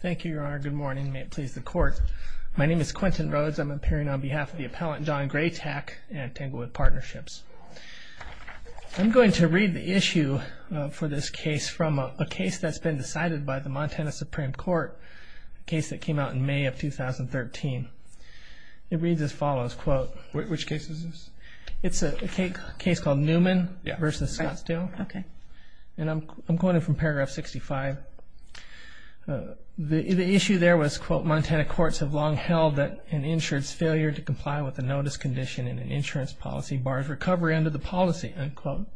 Thank you, Your Honor. Good morning. May it please the Court. My name is Quentin Rhodes. I'm appearing on behalf of the appellant John Greytak and Tanglewood Partnerships. I'm going to read the issue for this case from a case that's been decided by the Montana Supreme Court, a case that came out in May of 2013. It reads as follows, quote... Which case is this? It's a case called Newman v. Scottsdale. Okay. And I'm quoting from paragraph 65. The issue there was, quote, Montana courts have long held that an insurance failure to comply with a notice condition in an insurance policy bars recovery under the policy, unquote.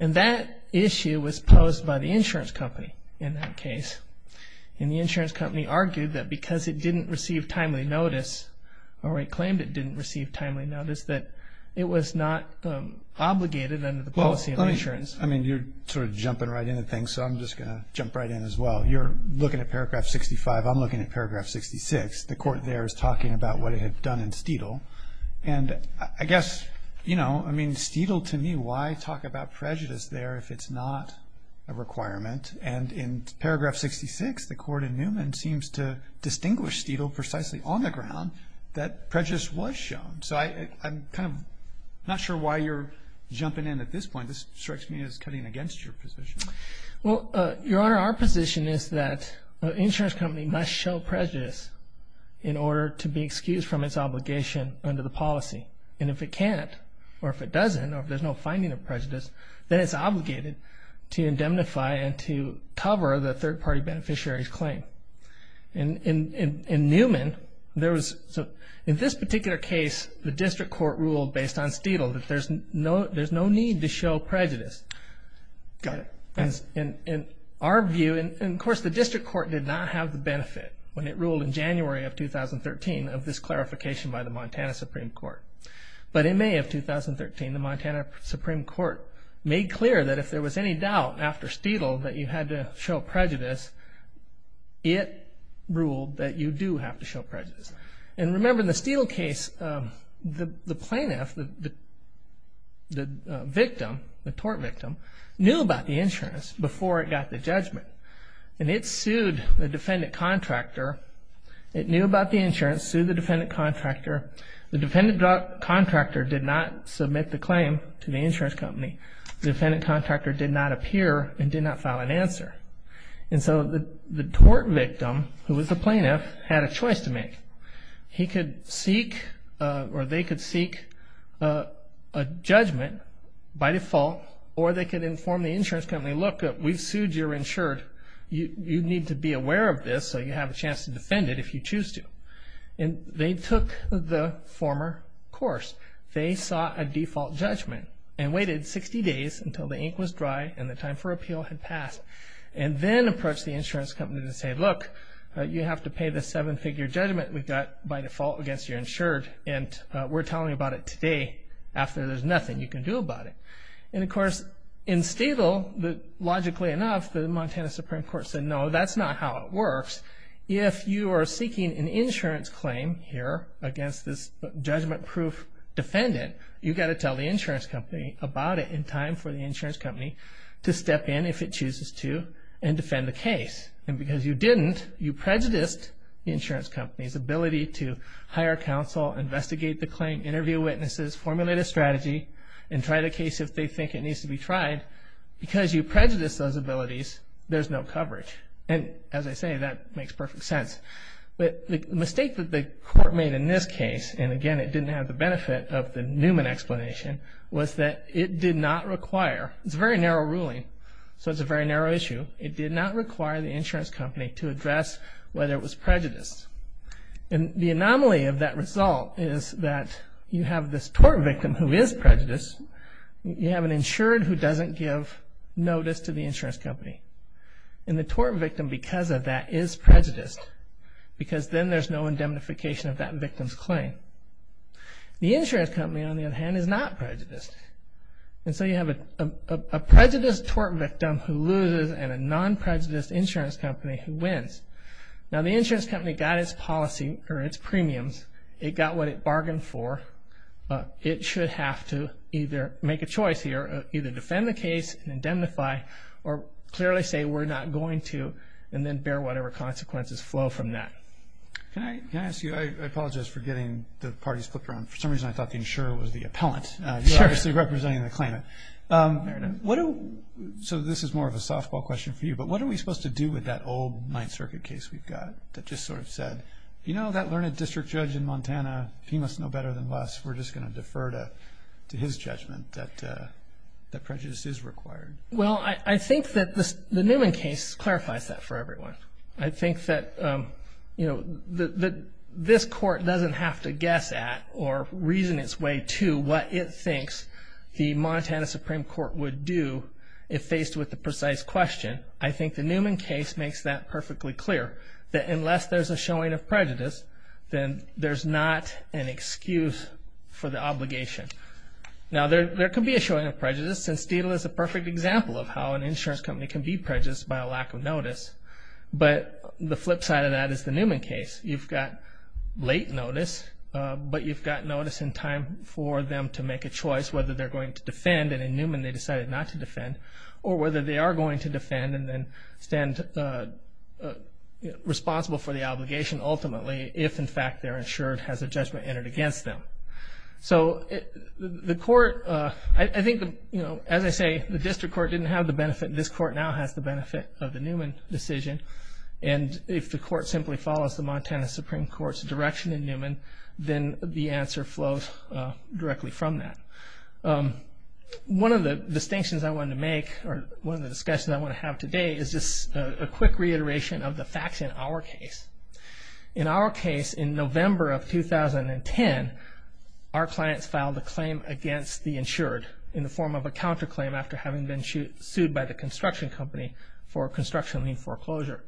And that issue was posed by the insurance company in that case. And the insurance company argued that because it didn't receive timely notice, or it claimed it didn't receive timely notice, that it was not obligated under the policy of insurance. I mean, you're sort of jumping right into things, so I'm just going to jump right in as well. You're looking at paragraph 65. I'm looking at paragraph 66. The court there is talking about what it had done in Steedle. And I guess, you know, I mean, Steedle to me, why talk about prejudice there if it's not a requirement? And in paragraph 66, the court in Newman seems to distinguish Steedle precisely on the ground that prejudice was shown. So I'm kind of not sure why you're jumping in at this point. This strikes me as cutting against your position. Well, Your Honor, our position is that an insurance company must show prejudice in order to be excused from its obligation under the policy. And if it can't, or if it doesn't, or if there's no finding of prejudice, then it's obligated to indemnify and to cover the third-party beneficiary's claim. In Newman, in this particular case, the district court ruled based on Steedle that there's no need to show prejudice. Got it. In our view, and of course the district court did not have the benefit when it ruled in January of 2013 of this clarification by the Montana Supreme Court. But in May of 2013, the Montana Supreme Court made clear that if there was any doubt after Steedle that you had to show prejudice, it ruled that you do have to show prejudice. And remember, in the Steedle case, the plaintiff, the victim, the tort victim, knew about the insurance before it got the judgment. And it sued the defendant contractor. It knew about the insurance, sued the defendant contractor. The defendant contractor did not submit the claim to the insurance company. The defendant contractor did not appear and did not file an answer. And so the tort victim, who was the plaintiff, had a choice to make. He could seek, or they could seek a judgment by default, or they could inform the insurance company, look, we've sued, you're insured, you need to be aware of this so you have a chance to defend it if you choose to. And they took the former course. They sought a default judgment and waited 60 days until the ink was dry and the time for appeal had passed, and then approached the insurance company to say, look, you have to pay the seven-figure judgment we've got by default against you're insured, and we're telling you about it today after there's nothing you can do about it. And, of course, in Steedle, logically enough, the Montana Supreme Court said, no, that's not how it works. If you are seeking an insurance claim here against this judgment-proof defendant, you've got to tell the insurance company about it in time for the insurance company to step in if it chooses to and defend the case. And because you didn't, you prejudiced the insurance company's ability to hire counsel, investigate the claim, interview witnesses, formulate a strategy, and try the case if they think it needs to be tried. Because you prejudiced those abilities, there's no coverage. And, as I say, that makes perfect sense. But the mistake that the court made in this case, and, again, it didn't have the benefit of the Newman explanation, was that it did not require, it's a very narrow ruling, so it's a very narrow issue, it did not require the insurance company to address whether it was prejudiced. And the anomaly of that result is that you have this tort victim who is prejudiced, you have an insured who doesn't give notice to the insurance company. And the tort victim, because of that, is prejudiced, because then there's no indemnification of that victim's claim. The insurance company, on the other hand, is not prejudiced. And so you have a prejudiced tort victim who loses and a non-prejudiced insurance company who wins. Now, the insurance company got its policy, or its premiums, it got what it bargained for, but it should have to either make a choice here, either defend the case and indemnify or clearly say we're not going to and then bear whatever consequences flow from that. Can I ask you, I apologize for getting the parties flipped around. For some reason I thought the insurer was the appellant. You're obviously representing the claimant. So this is more of a softball question for you, but what are we supposed to do with that old Ninth Circuit case we've got that just sort of said, you know, that learned district judge in Montana, he must know better than us, we're just going to defer to his judgment that prejudice is required. Well, I think that the Newman case clarifies that for everyone. I think that, you know, this court doesn't have to guess at or reason its way to what it thinks the Montana Supreme Court would do if faced with the precise question. I think the Newman case makes that perfectly clear, that unless there's a showing of prejudice, then there's not an excuse for the obligation. Now, there could be a showing of prejudice, and Steedle is a perfect example of how an insurance company can be prejudiced by a lack of notice, but the flip side of that is the Newman case. You've got late notice, but you've got notice in time for them to make a choice whether they're going to defend, and in Newman they decided not to defend, or whether they are going to defend and then stand responsible for the obligation ultimately if, in fact, their insurance has a judgment entered against them. So the court, I think, you know, as I say, the district court didn't have the benefit, this court now has the benefit of the Newman decision, and if the court simply follows the Montana Supreme Court's direction in Newman, then the answer flows directly from that. One of the distinctions I wanted to make, or one of the discussions I want to have today is just a quick reiteration of the facts in our case. In our case, in November of 2010, our clients filed a claim against the insured in the form of a counterclaim after having been sued by the construction company for construction lien foreclosure.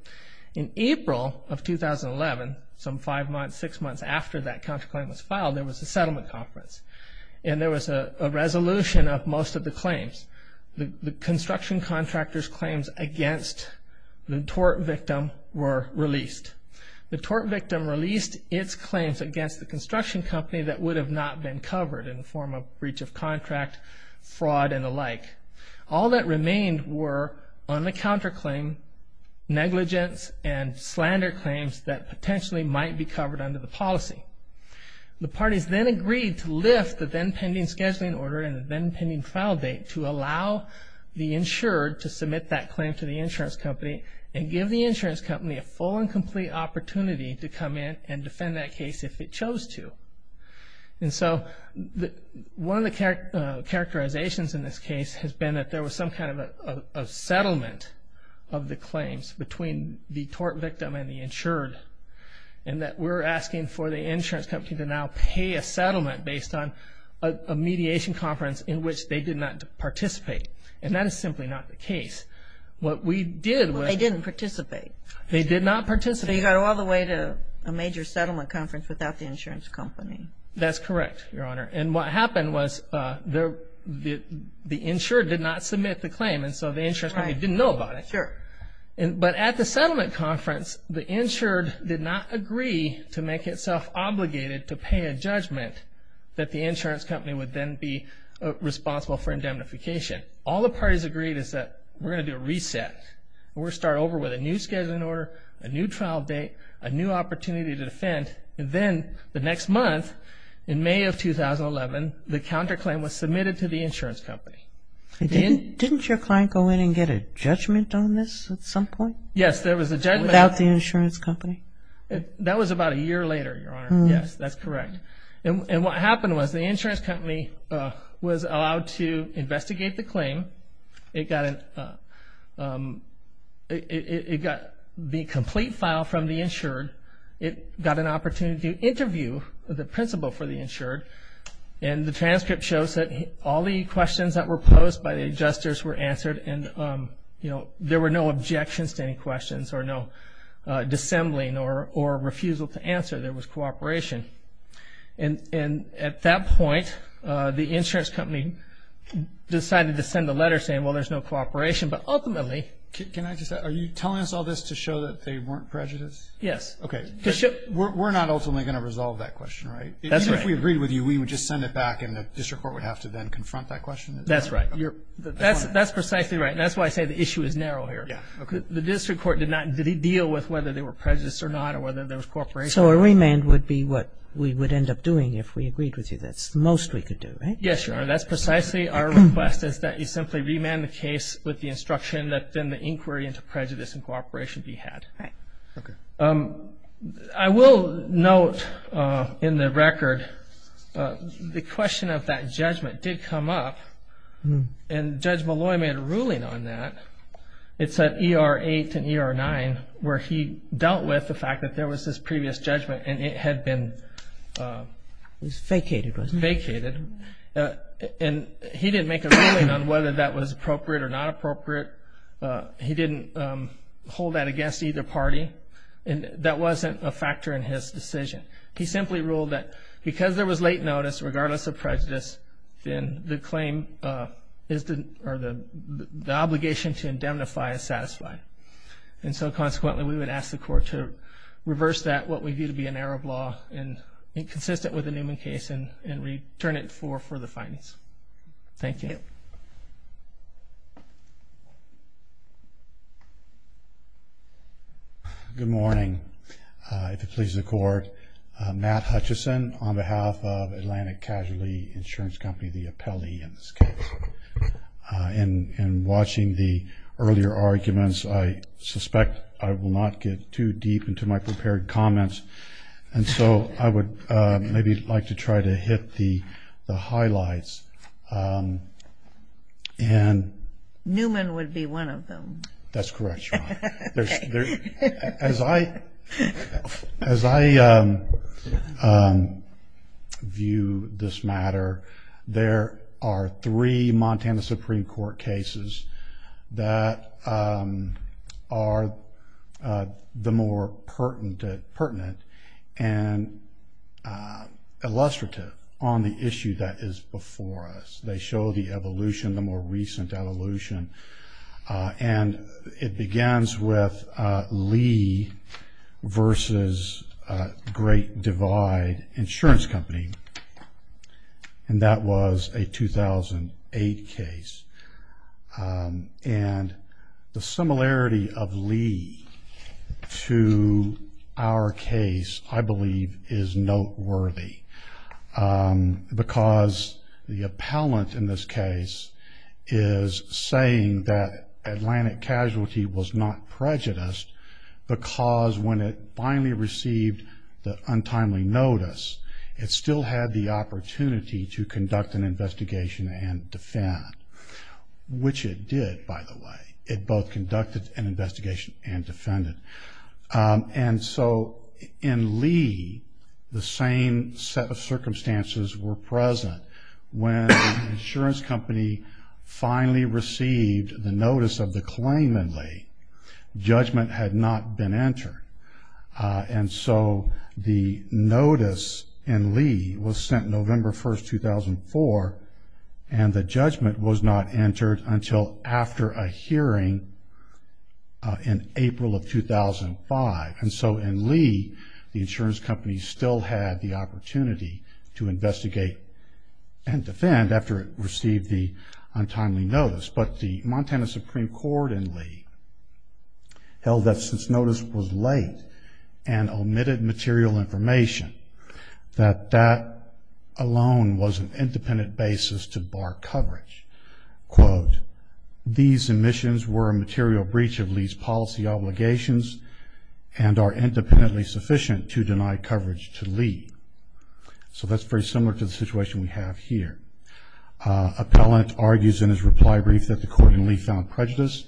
In April of 2011, some five months, six months after that counterclaim was filed, there was a settlement conference, and there was a resolution of most of the claims. The construction contractor's claims against the tort victim were released. The tort victim released its claims against the construction company that would have not been covered in the form of breach of contract, fraud, and the like. All that remained were on the counterclaim negligence and slander claims that potentially might be covered under the policy. The parties then agreed to lift the then-pending scheduling order and the then-pending trial date to allow the insured to submit that claim to the insurance company and give the insurance company a full and complete opportunity to come in and defend that case if it chose to. One of the characterizations in this case has been that there was some kind of settlement of the claims between the tort victim and the insured, and that we're asking for the insurance company to now pay a settlement based on a mediation conference in which they did not participate. And that is simply not the case. What we did was... Well, they didn't participate. They did not participate. So you got all the way to a major settlement conference without the insurance company. That's correct, Your Honor. And what happened was the insured did not submit the claim, and so the insurance company didn't know about it. Sure. But at the settlement conference, the insured did not agree to make itself obligated to pay a judgment that the insurance company would then be responsible for indemnification. All the parties agreed is that we're going to do a reset. We're going to start over with a new scheduling order, a new trial date, a new opportunity to defend, and then the next month, in May of 2011, the counterclaim was submitted to the insurance company. Didn't your client go in and get a judgment on this at some point? Yes, there was a judgment. Without the insurance company? That was about a year later, Your Honor. Yes, that's correct. And what happened was the insurance company was allowed to investigate the claim. It got the complete file from the insured. It got an opportunity to interview the principal for the insured, and the transcript shows that all the questions that were posed by the adjusters were answered, and there were no objections to any questions or no dissembling or refusal to answer. There was cooperation. And at that point, the insurance company decided to send a letter saying, well, there's no cooperation. But ultimately – Can I just – are you telling us all this to show that they weren't prejudiced? Yes. Okay. We're not ultimately going to resolve that question, right? Even if we agreed with you, we would just send it back and the district court would have to then confront that question? That's right. That's precisely right, and that's why I say the issue is narrow here. The district court did not deal with whether they were prejudiced or not or whether there was cooperation. So a remand would be what we would end up doing if we agreed with you. That's the most we could do, right? Yes, Your Honor. That's precisely our request is that you simply remand the case with the instruction that then the inquiry into prejudice and cooperation be had. Right. Okay. I will note in the record the question of that judgment did come up, and Judge Molloy made a ruling on that. It's at ER 8 and ER 9 where he dealt with the fact that there was this previous judgment and it had been vacated. And he didn't make a ruling on whether that was appropriate or not appropriate. He didn't hold that against either party. That wasn't a factor in his decision. He simply ruled that because there was late notice, regardless of prejudice, then the obligation to indemnify is satisfied. And so consequently we would ask the court to reverse that, what we view to be an error of law, and consistent with the Newman case and return it for further findings. Thank you. Good morning. If it pleases the court, Matt Hutchison on behalf of Atlantic Casualty Insurance Company, the appellee in this case. In watching the earlier arguments, I suspect I will not get too deep into my prepared comments. And so I would maybe like to try to hit the highlights. Newman would be one of them. That's correct, Your Honor. As I view this matter, there are three Montana Supreme Court cases that are the most pertinent and illustrative on the issue that is before us. They show the evolution, the more recent evolution. And it begins with Lee versus Great Divide Insurance Company, and that was a 2008 case. And the similarity of Lee to our case, I believe, is noteworthy. Because the appellant in this case is saying that Atlantic Casualty was not prejudiced because when it finally received the untimely notice, it still had the opportunity to conduct an investigation and defend, which it did, by the way. It both conducted an investigation and defended. And so in Lee, the same set of circumstances were present. When the insurance company finally received the notice of the claimant, Lee, judgment had not been entered. And so the notice in Lee was sent November 1, 2004, and the judgment was not entered until after a hearing in April of 2005. And so in Lee, the insurance company still had the opportunity to investigate and defend after it received the untimely notice. But the Montana Supreme Court in Lee held that since notice was late and omitted material information, that that alone was an independent basis to bar coverage. Quote, these omissions were a material breach of Lee's policy obligations and are independently sufficient to deny coverage to Lee. So that's very similar to the situation we have here. Appellant argues in his reply brief that the court in Lee found prejudice,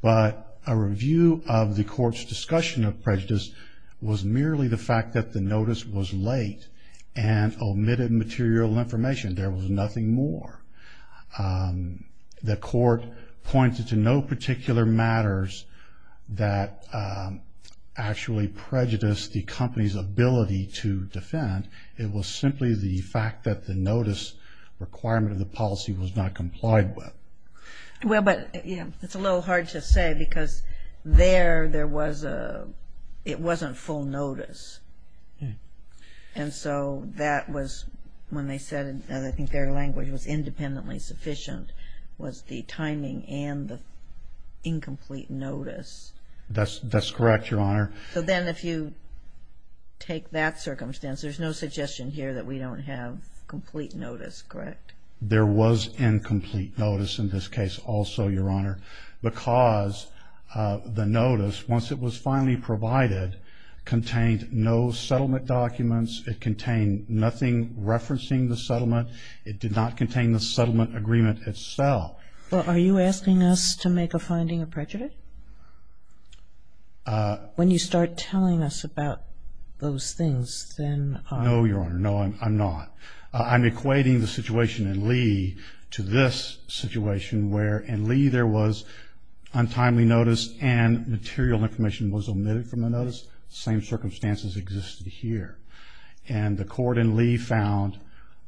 but a review of the court's discussion of prejudice was merely the fact that the notice was late and omitted material information. There was nothing more. The court pointed to no particular matters that actually prejudiced the company's ability to defend. It was simply the fact that the notice requirement of the policy was not complied with. Well, but it's a little hard to say, because there it wasn't full notice. And so that was when they said, and I think their language was independently sufficient, was the timing and the incomplete notice. That's correct, Your Honor. So then if you take that circumstance, there's no suggestion here that we don't have complete notice, correct? There was incomplete notice in this case also, Your Honor, because the notice, once it was finally provided, contained no settlement documents. It contained nothing referencing the settlement. It did not contain the settlement agreement itself. Well, are you asking us to make a finding of prejudice? When you start telling us about those things, then I'm... No, Your Honor, no, I'm not. I'm equating the situation in Lee to this situation, where in Lee there was untimely notice and material information was omitted from the notice. The same circumstances existed here. And the court in Lee found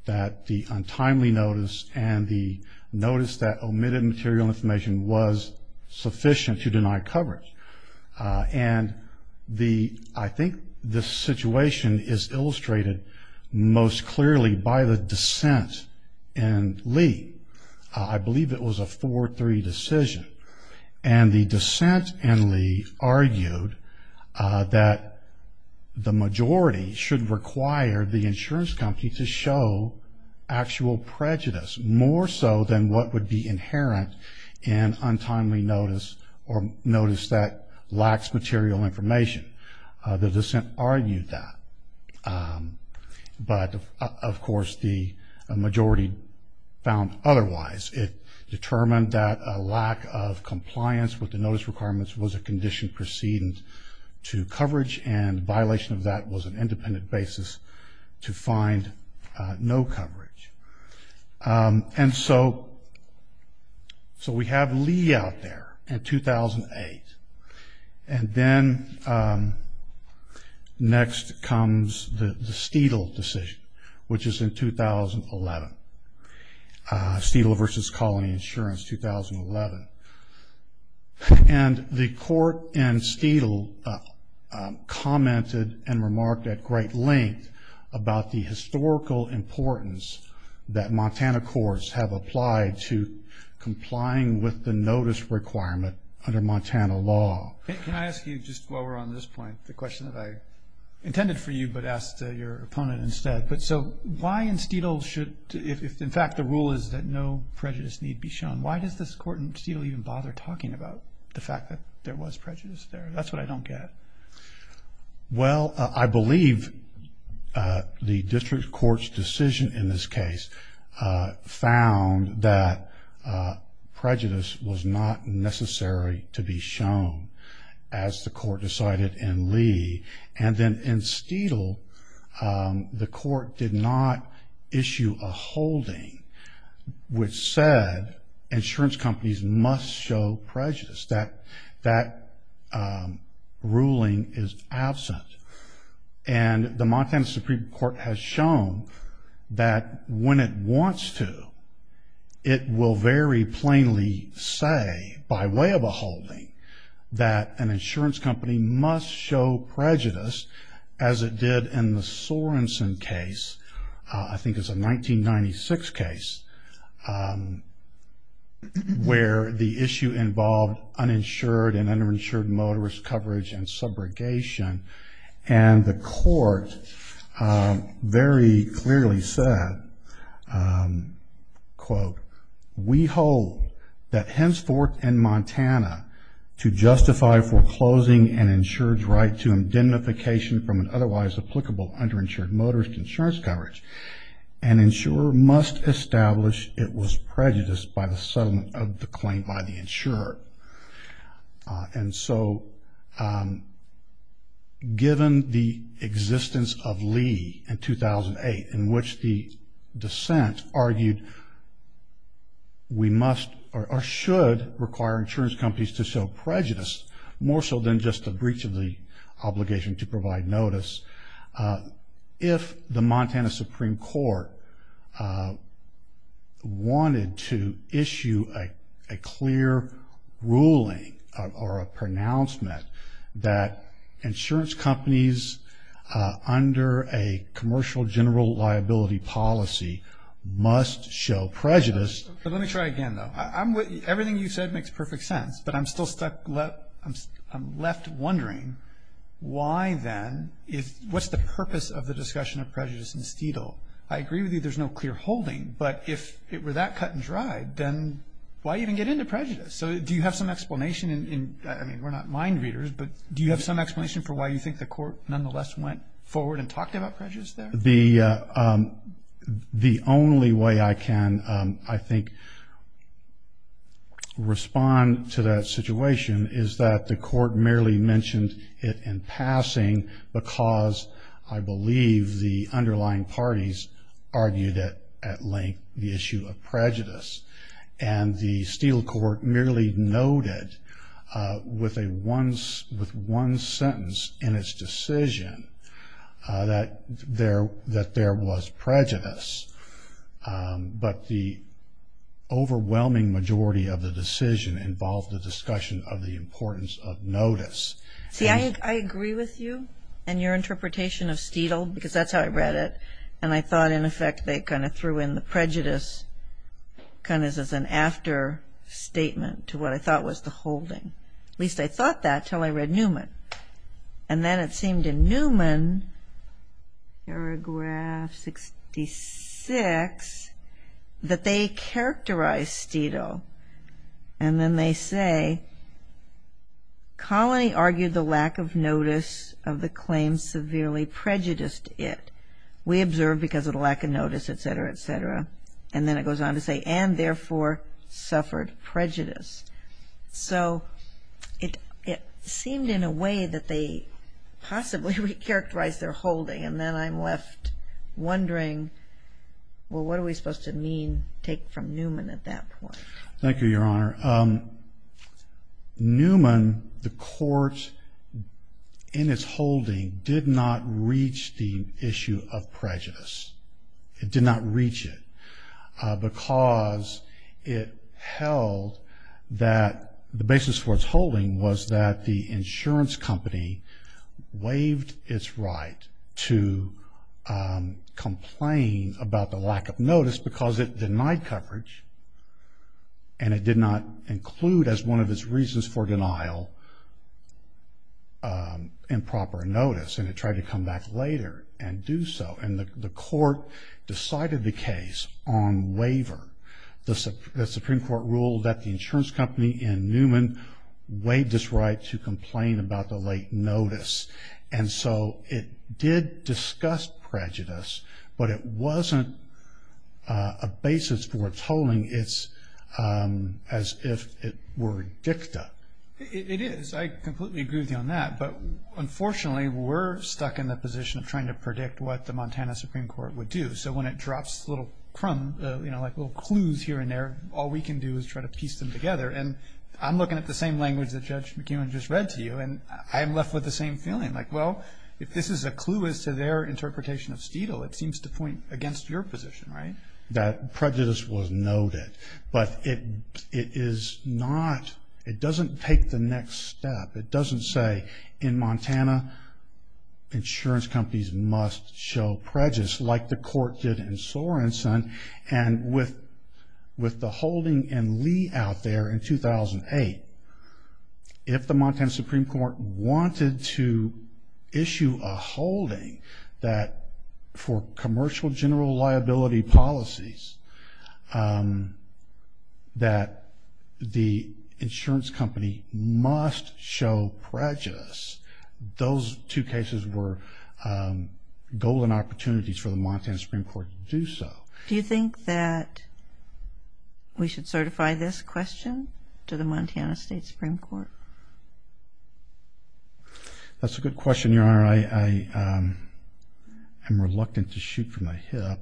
that the untimely notice and the notice that omitted material information was sufficient to deny coverage. And the... I think this situation is illustrated most clearly by the dissent in Lee. I believe it was a 4-3 decision. And the dissent in Lee argued that the majority should require the insurance company to show actual prejudice, more so than what would be inherent in untimely notice or notice that lacks material information. The dissent argued that. But, of course, the majority found otherwise. It determined that a lack of compliance with the notice requirements was a condition preceding to coverage, and violation of that was an independent basis to find no coverage. And so we have Lee out there in 2008. And then next comes the Steedle decision, which is in 2011. Steedle v. Colony Insurance, 2011. And the court in Steedle commented and remarked at great length about the historical importance that Montana courts have applied to complying with the notice requirement under Montana law. Can I ask you, just while we're on this point, the question that I intended for you but asked your opponent instead. So why in Steedle should, if in fact the rule is that no prejudice need be shown, why does this court in Steedle even bother talking about the fact that there was prejudice there? That's what I don't get. Well, I believe the district court's decision in this case found that prejudice was not necessary to be shown, as the court decided in Lee. And then in Steedle, the court did not issue a holding which said insurance companies must show prejudice. That ruling is absent. And the Montana Supreme Court has shown that when it wants to, it will very plainly say by way of a holding that an insurance company must show prejudice, as it did in the Sorenson case, I think it's a 1996 case, where the issue involved uninsured and underinsured motorist coverage and subrogation. And the court very clearly said, quote, We hold that henceforth in Montana, to justify foreclosing an insured's right to indemnification from an otherwise applicable underinsured motorist insurance coverage, an insurer must establish it was prejudiced by the settlement of the claim by the insurer. And so given the existence of Lee in 2008, in which the dissent argued we must or should require insurance companies to show prejudice, more so than just a breach of the obligation to provide notice, if the Montana Supreme Court wanted to issue a clear ruling or a pronouncement that insurance companies under a commercial general liability policy must show prejudice. But let me try again, though. Everything you said makes perfect sense, but I'm still left wondering why then, what's the purpose of the discussion of prejudice in Steedle? I agree with you there's no clear holding, but if it were that cut and dried, then why even get into prejudice? So do you have some explanation? I mean, we're not mind readers, but do you have some explanation for why you think the court, nonetheless, went forward and talked about prejudice there? The only way I can, I think, respond to that situation, is that the court merely mentioned it in passing because I believe the underlying parties argued it at length the issue of prejudice. And the Steedle court merely noted with one sentence in its decision that there was prejudice, but the overwhelming majority of the decision involved the discussion of the importance of notice. See, I agree with you and your interpretation of Steedle, because that's how I read it, and I thought, in effect, they kind of threw in the prejudice kind of as an after statement to what I thought was the holding. At least I thought that until I read Newman. And then it seemed in Newman, paragraph 66, that they characterized Steedle, and then they say, colony argued the lack of notice of the claim severely prejudiced it. We observed because of the lack of notice, et cetera, et cetera. And then it goes on to say, and therefore suffered prejudice. So it seemed in a way that they possibly recharacterized their holding, and then I'm left wondering, well, what are we supposed to mean, take from Newman at that point? Thank you, Your Honor. Newman, the court, in its holding, did not reach the issue of prejudice. It did not reach it because it held that the basis for its holding was that the insurance company waived its right to complain about the lack of notice because it denied coverage, and it did not include as one of its reasons for denial improper notice, and it tried to come back later and do so. And the court decided the case on waiver. The Supreme Court ruled that the insurance company in Newman waived its right to complain about the late notice. And so it did discuss prejudice, but it wasn't a basis for its holding. It's as if it were dicta. It is. I completely agree with you on that, but unfortunately we're stuck in the position of trying to predict what the Montana Supreme Court would do. So when it drops little crumbs, you know, like little clues here and there, all we can do is try to piece them together. And I'm looking at the same language that Judge McEwen just read to you, and I'm left with the same feeling, like, well, if this is a clue as to their interpretation of Steedle, it seems to point against your position, right? That prejudice was noted. But it is not, it doesn't take the next step. It doesn't say in Montana insurance companies must show prejudice, like the court did in Sorenson. And with the holding in Lee out there in 2008, if the Montana Supreme Court wanted to issue a holding that for commercial general liability policies that the insurance company must show prejudice, those two cases were golden opportunities for the Montana Supreme Court to do so. Do you think that we should certify this question to the Montana State Supreme Court? That's a good question, Your Honor. I am reluctant to shoot from my hip.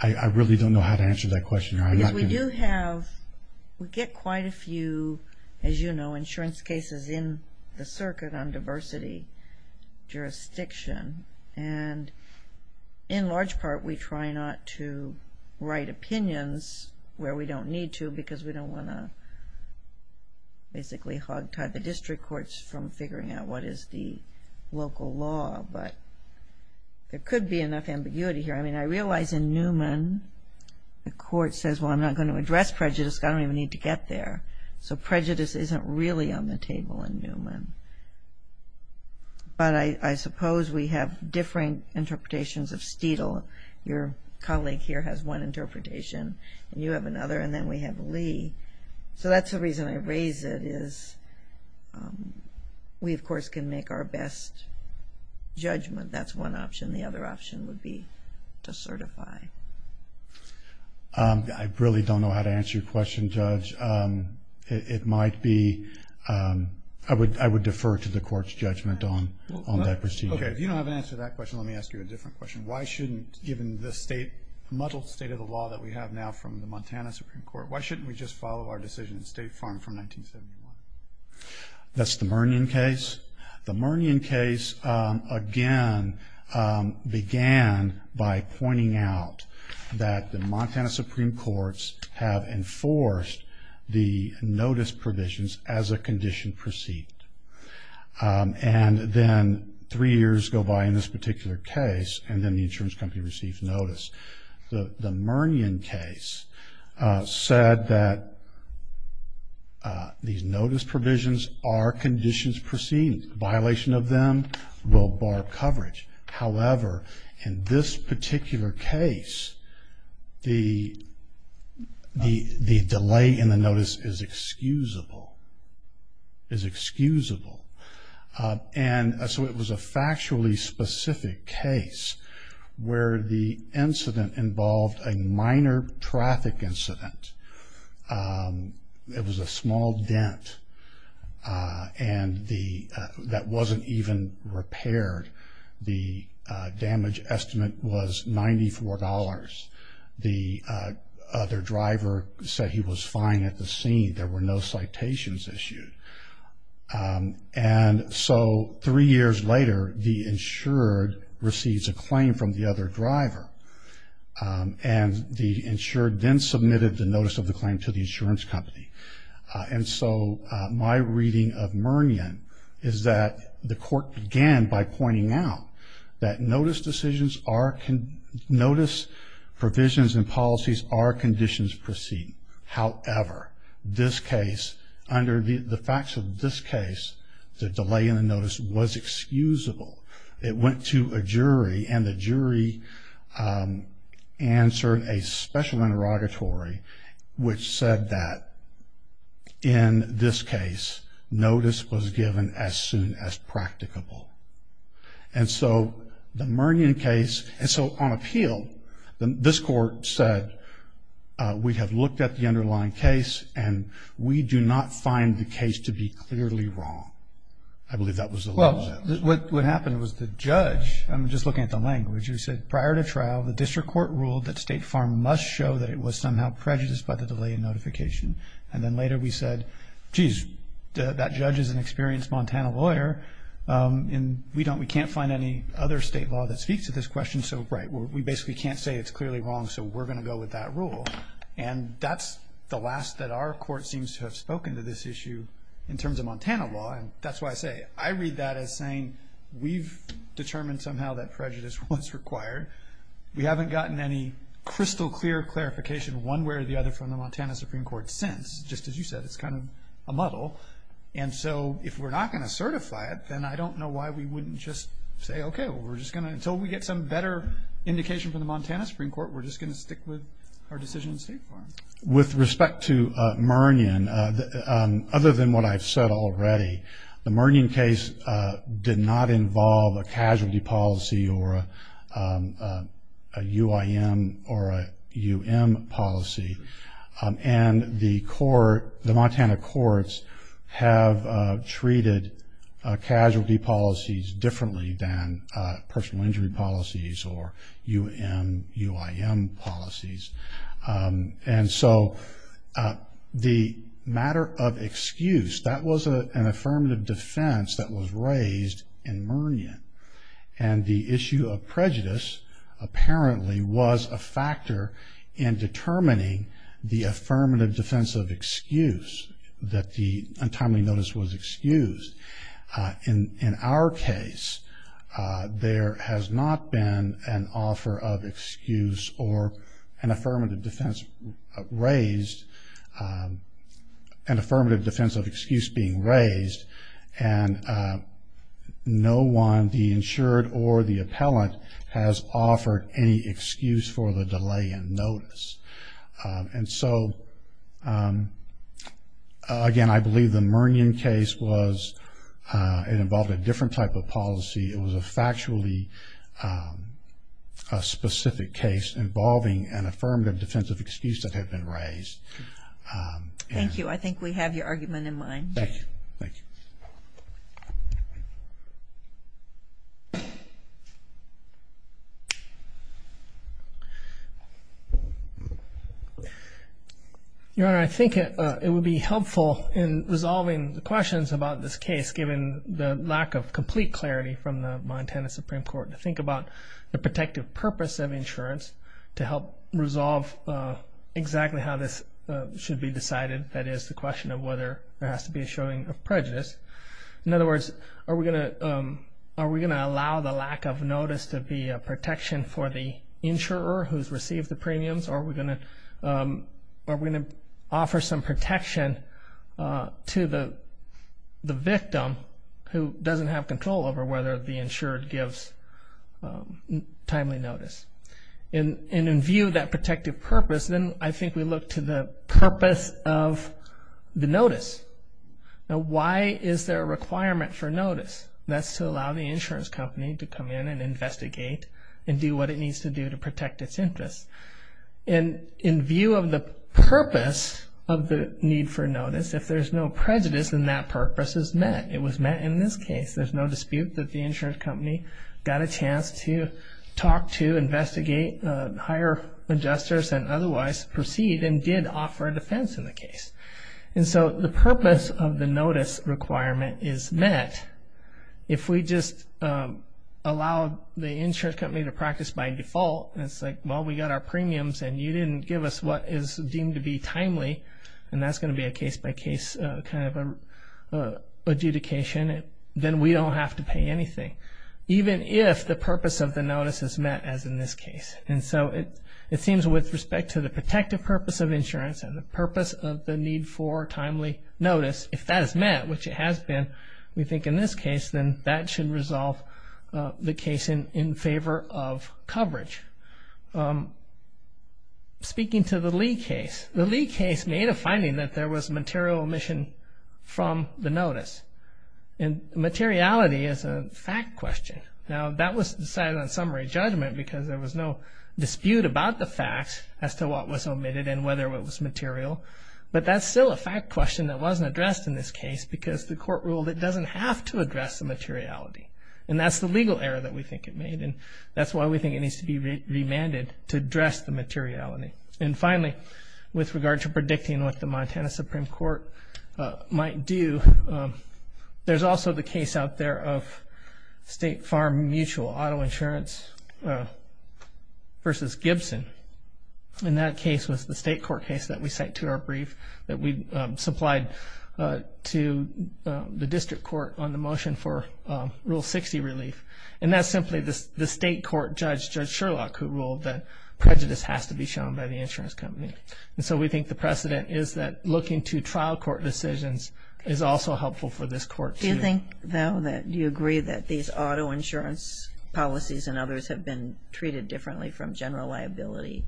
I really don't know how to answer that question, Your Honor. Because we do have, we get quite a few, as you know, insurance cases in the circuit on diversity jurisdiction. And in large part we try not to write opinions where we don't need to because we don't want to basically hogtie the district courts from figuring out what is the local law. But there could be enough ambiguity here. I mean, I realize in Newman the court says, well, I'm not going to address prejudice because I don't even need to get there. So prejudice isn't really on the table in Newman. But I suppose we have different interpretations of Steedle. Your colleague here has one interpretation, and you have another, and then we have Lee. So that's the reason I raise it is we, of course, can make our best judgment. That's one option. The other option would be to certify. I really don't know how to answer your question, Judge. It might be, I would defer to the court's judgment on that procedure. Okay, if you don't have an answer to that question, let me ask you a different question. Why shouldn't, given the state, muddled state of the law that we have now from the Montana Supreme Court, why shouldn't we just follow our decision in State Farm from 1971? That's the Murnion case. The Murnion case, again, began by pointing out that the Montana Supreme Courts have enforced the notice provisions as a condition proceed. And then three years go by in this particular case, and then the insurance company receives notice. The Murnion case said that these notice provisions are conditions proceed. Violation of them will bar coverage. However, in this particular case, the delay in the notice is excusable, is excusable. And so it was a factually specific case where the incident involved a minor traffic incident. It was a small dent that wasn't even repaired. The damage estimate was $94. The other driver said he was fine at the scene. There were no citations issued. And so three years later, the insured receives a claim from the other driver. And the insured then submitted the notice of the claim to the insurance company. And so my reading of Murnion is that the court began by pointing out that notice decisions are, notice provisions and policies are conditions proceed. However, this case, under the facts of this case, the delay in the notice was excusable. It went to a jury, and the jury answered a special interrogatory, which said that in this case, notice was given as soon as practicable. And so the Murnion case, and so on appeal, this court said we have looked at the underlying case, and we do not find the case to be clearly wrong. I believe that was the law. Well, what happened was the judge, I'm just looking at the language, who said prior to trial, the district court ruled that State Farm must show that it was somehow prejudiced by the delay in notification. And then later we said, geez, that judge is an experienced Montana lawyer, and we can't find any other state law that speaks to this question. And so, right, we basically can't say it's clearly wrong, so we're going to go with that rule. And that's the last that our court seems to have spoken to this issue in terms of Montana law, and that's why I say I read that as saying we've determined somehow that prejudice was required. We haven't gotten any crystal clear clarification one way or the other from the Montana Supreme Court since. Just as you said, it's kind of a muddle. And so if we're not going to certify it, then I don't know why we wouldn't just say, okay, we're just going to, until we get some better indication from the Montana Supreme Court, we're just going to stick with our decision in State Farm. With respect to Mernion, other than what I've said already, the Mernion case did not involve a casualty policy or a UIM or a UM policy. And the Montana courts have treated casualty policies differently than personal injury policies or UM, UIM policies. And so the matter of excuse, that was an affirmative defense that was raised in Mernion. And the issue of prejudice apparently was a factor in determining the affirmative defense of excuse, that the untimely notice was excused. In our case, there has not been an offer of excuse or an affirmative defense raised, an affirmative defense of excuse being raised, and no one, the insured or the appellant, has offered any excuse for the delay in notice. And so, again, I believe the Mernion case was, it involved a different type of policy. It was a factually specific case involving an affirmative defense of excuse that had been raised. Thank you. I think we have your argument in mind. Your Honor, I think it would be helpful in resolving the questions about this case, given the lack of complete clarity from the Montana Supreme Court, to think about the protective purpose of insurance to help resolve exactly how this should be decided. That is, the question of whether there has to be a showing of prejudice. In other words, are we going to allow the lack of notice to be a protection for the insurer who's received the premiums, or are we going to offer some protection to the victim who doesn't have control over whether the insured gives the premium? Timely notice. And in view of that protective purpose, then I think we look to the purpose of the notice. Now, why is there a requirement for notice? That's to allow the insurance company to come in and investigate and do what it needs to do to protect its interests. And in view of the purpose of the need for notice, if there's no prejudice, then that purpose is met. It was met in this case. There's no dispute that the insurance company got a chance to talk to, investigate, hire adjusters and otherwise proceed, and did offer a defense in the case. And so the purpose of the notice requirement is met. If we just allow the insurance company to practice by default, and it's like, well, we got our premiums and you didn't give us what is deemed to be timely, and that's going to be a case-by-case kind of adjudication, then we don't have to pay anything. Even if the purpose of the notice is met, as in this case. And so it seems with respect to the protective purpose of insurance and the purpose of the need for timely notice, if that is met, which it has been, we think in this case, then that should resolve the case in favor of coverage. Speaking to the Lee case, the Lee case made a finding that there was material omission from the notice. And materiality is a fact question. Now, that was decided on summary judgment because there was no dispute about the facts as to what was omitted and whether it was material. But that's still a fact question that wasn't addressed in this case because the court ruled it doesn't have to address the materiality. And that's the legal error that we think it made, and that's why we think it needs to be remanded to address the materiality. And finally, with regard to predicting what the Montana Supreme Court might do, there's also the case out there of State Farm Mutual Auto Insurance v. Gibson. And that case was the state court case that we sent to our brief that we supplied to the district court on the motion for Rule 7. And that's simply the state court judge, Judge Sherlock, who ruled that prejudice has to be shown by the insurance company. And so we think the precedent is that looking to trial court decisions is also helpful for this court. Do you think, though, that you agree that these auto insurance policies and others have been treated differently from general liability?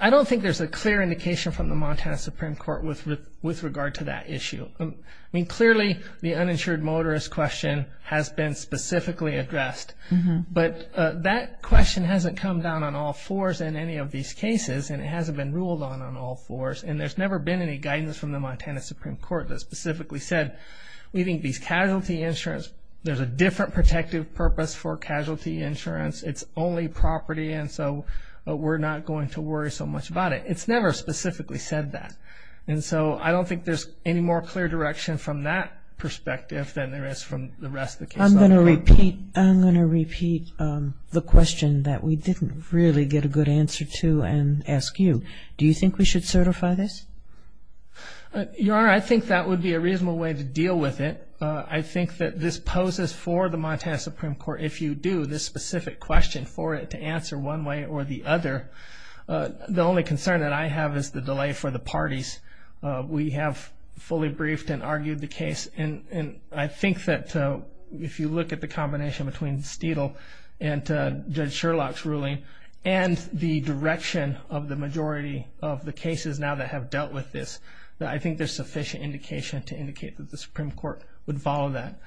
I don't think there's a clear indication from the Montana Supreme Court with regard to that issue. I mean, clearly, the uninsured motorist question has been specifically addressed. But that question hasn't come down on all fours in any of these cases, and it hasn't been ruled on on all fours. And there's never been any guidance from the Montana Supreme Court that specifically said, we think these casualty insurance, there's a different protective purpose for casualty insurance, it's only property, and so we're not going to worry so much about it. It's never specifically said that. And so I don't think there's any more clear direction from that perspective than there is from the rest of the case. I'm going to repeat the question that we didn't really get a good answer to and ask you. Do you think we should certify this? Your Honor, I think that would be a reasonable way to deal with it. I think that this poses for the Montana Supreme Court, if you do this specific question, for it to answer one way or the other. The only concern that I have is the delay for the parties. We have fully briefed and argued the case. And I think that if you look at the combination between Steedle and Judge Sherlock's ruling and the direction of the majority of the cases now that have dealt with this, I think there's sufficient indication to indicate that the Supreme Court would follow that.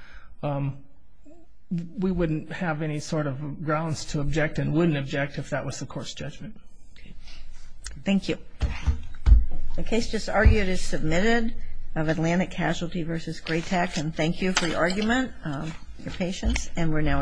We wouldn't have any sort of grounds to object and wouldn't object if that was the court's judgment. Thank you. The case just argued is submitted of Atlantic Casualty v. Gray-Tack. And thank you for your argument, your patience, and we're now adjourned.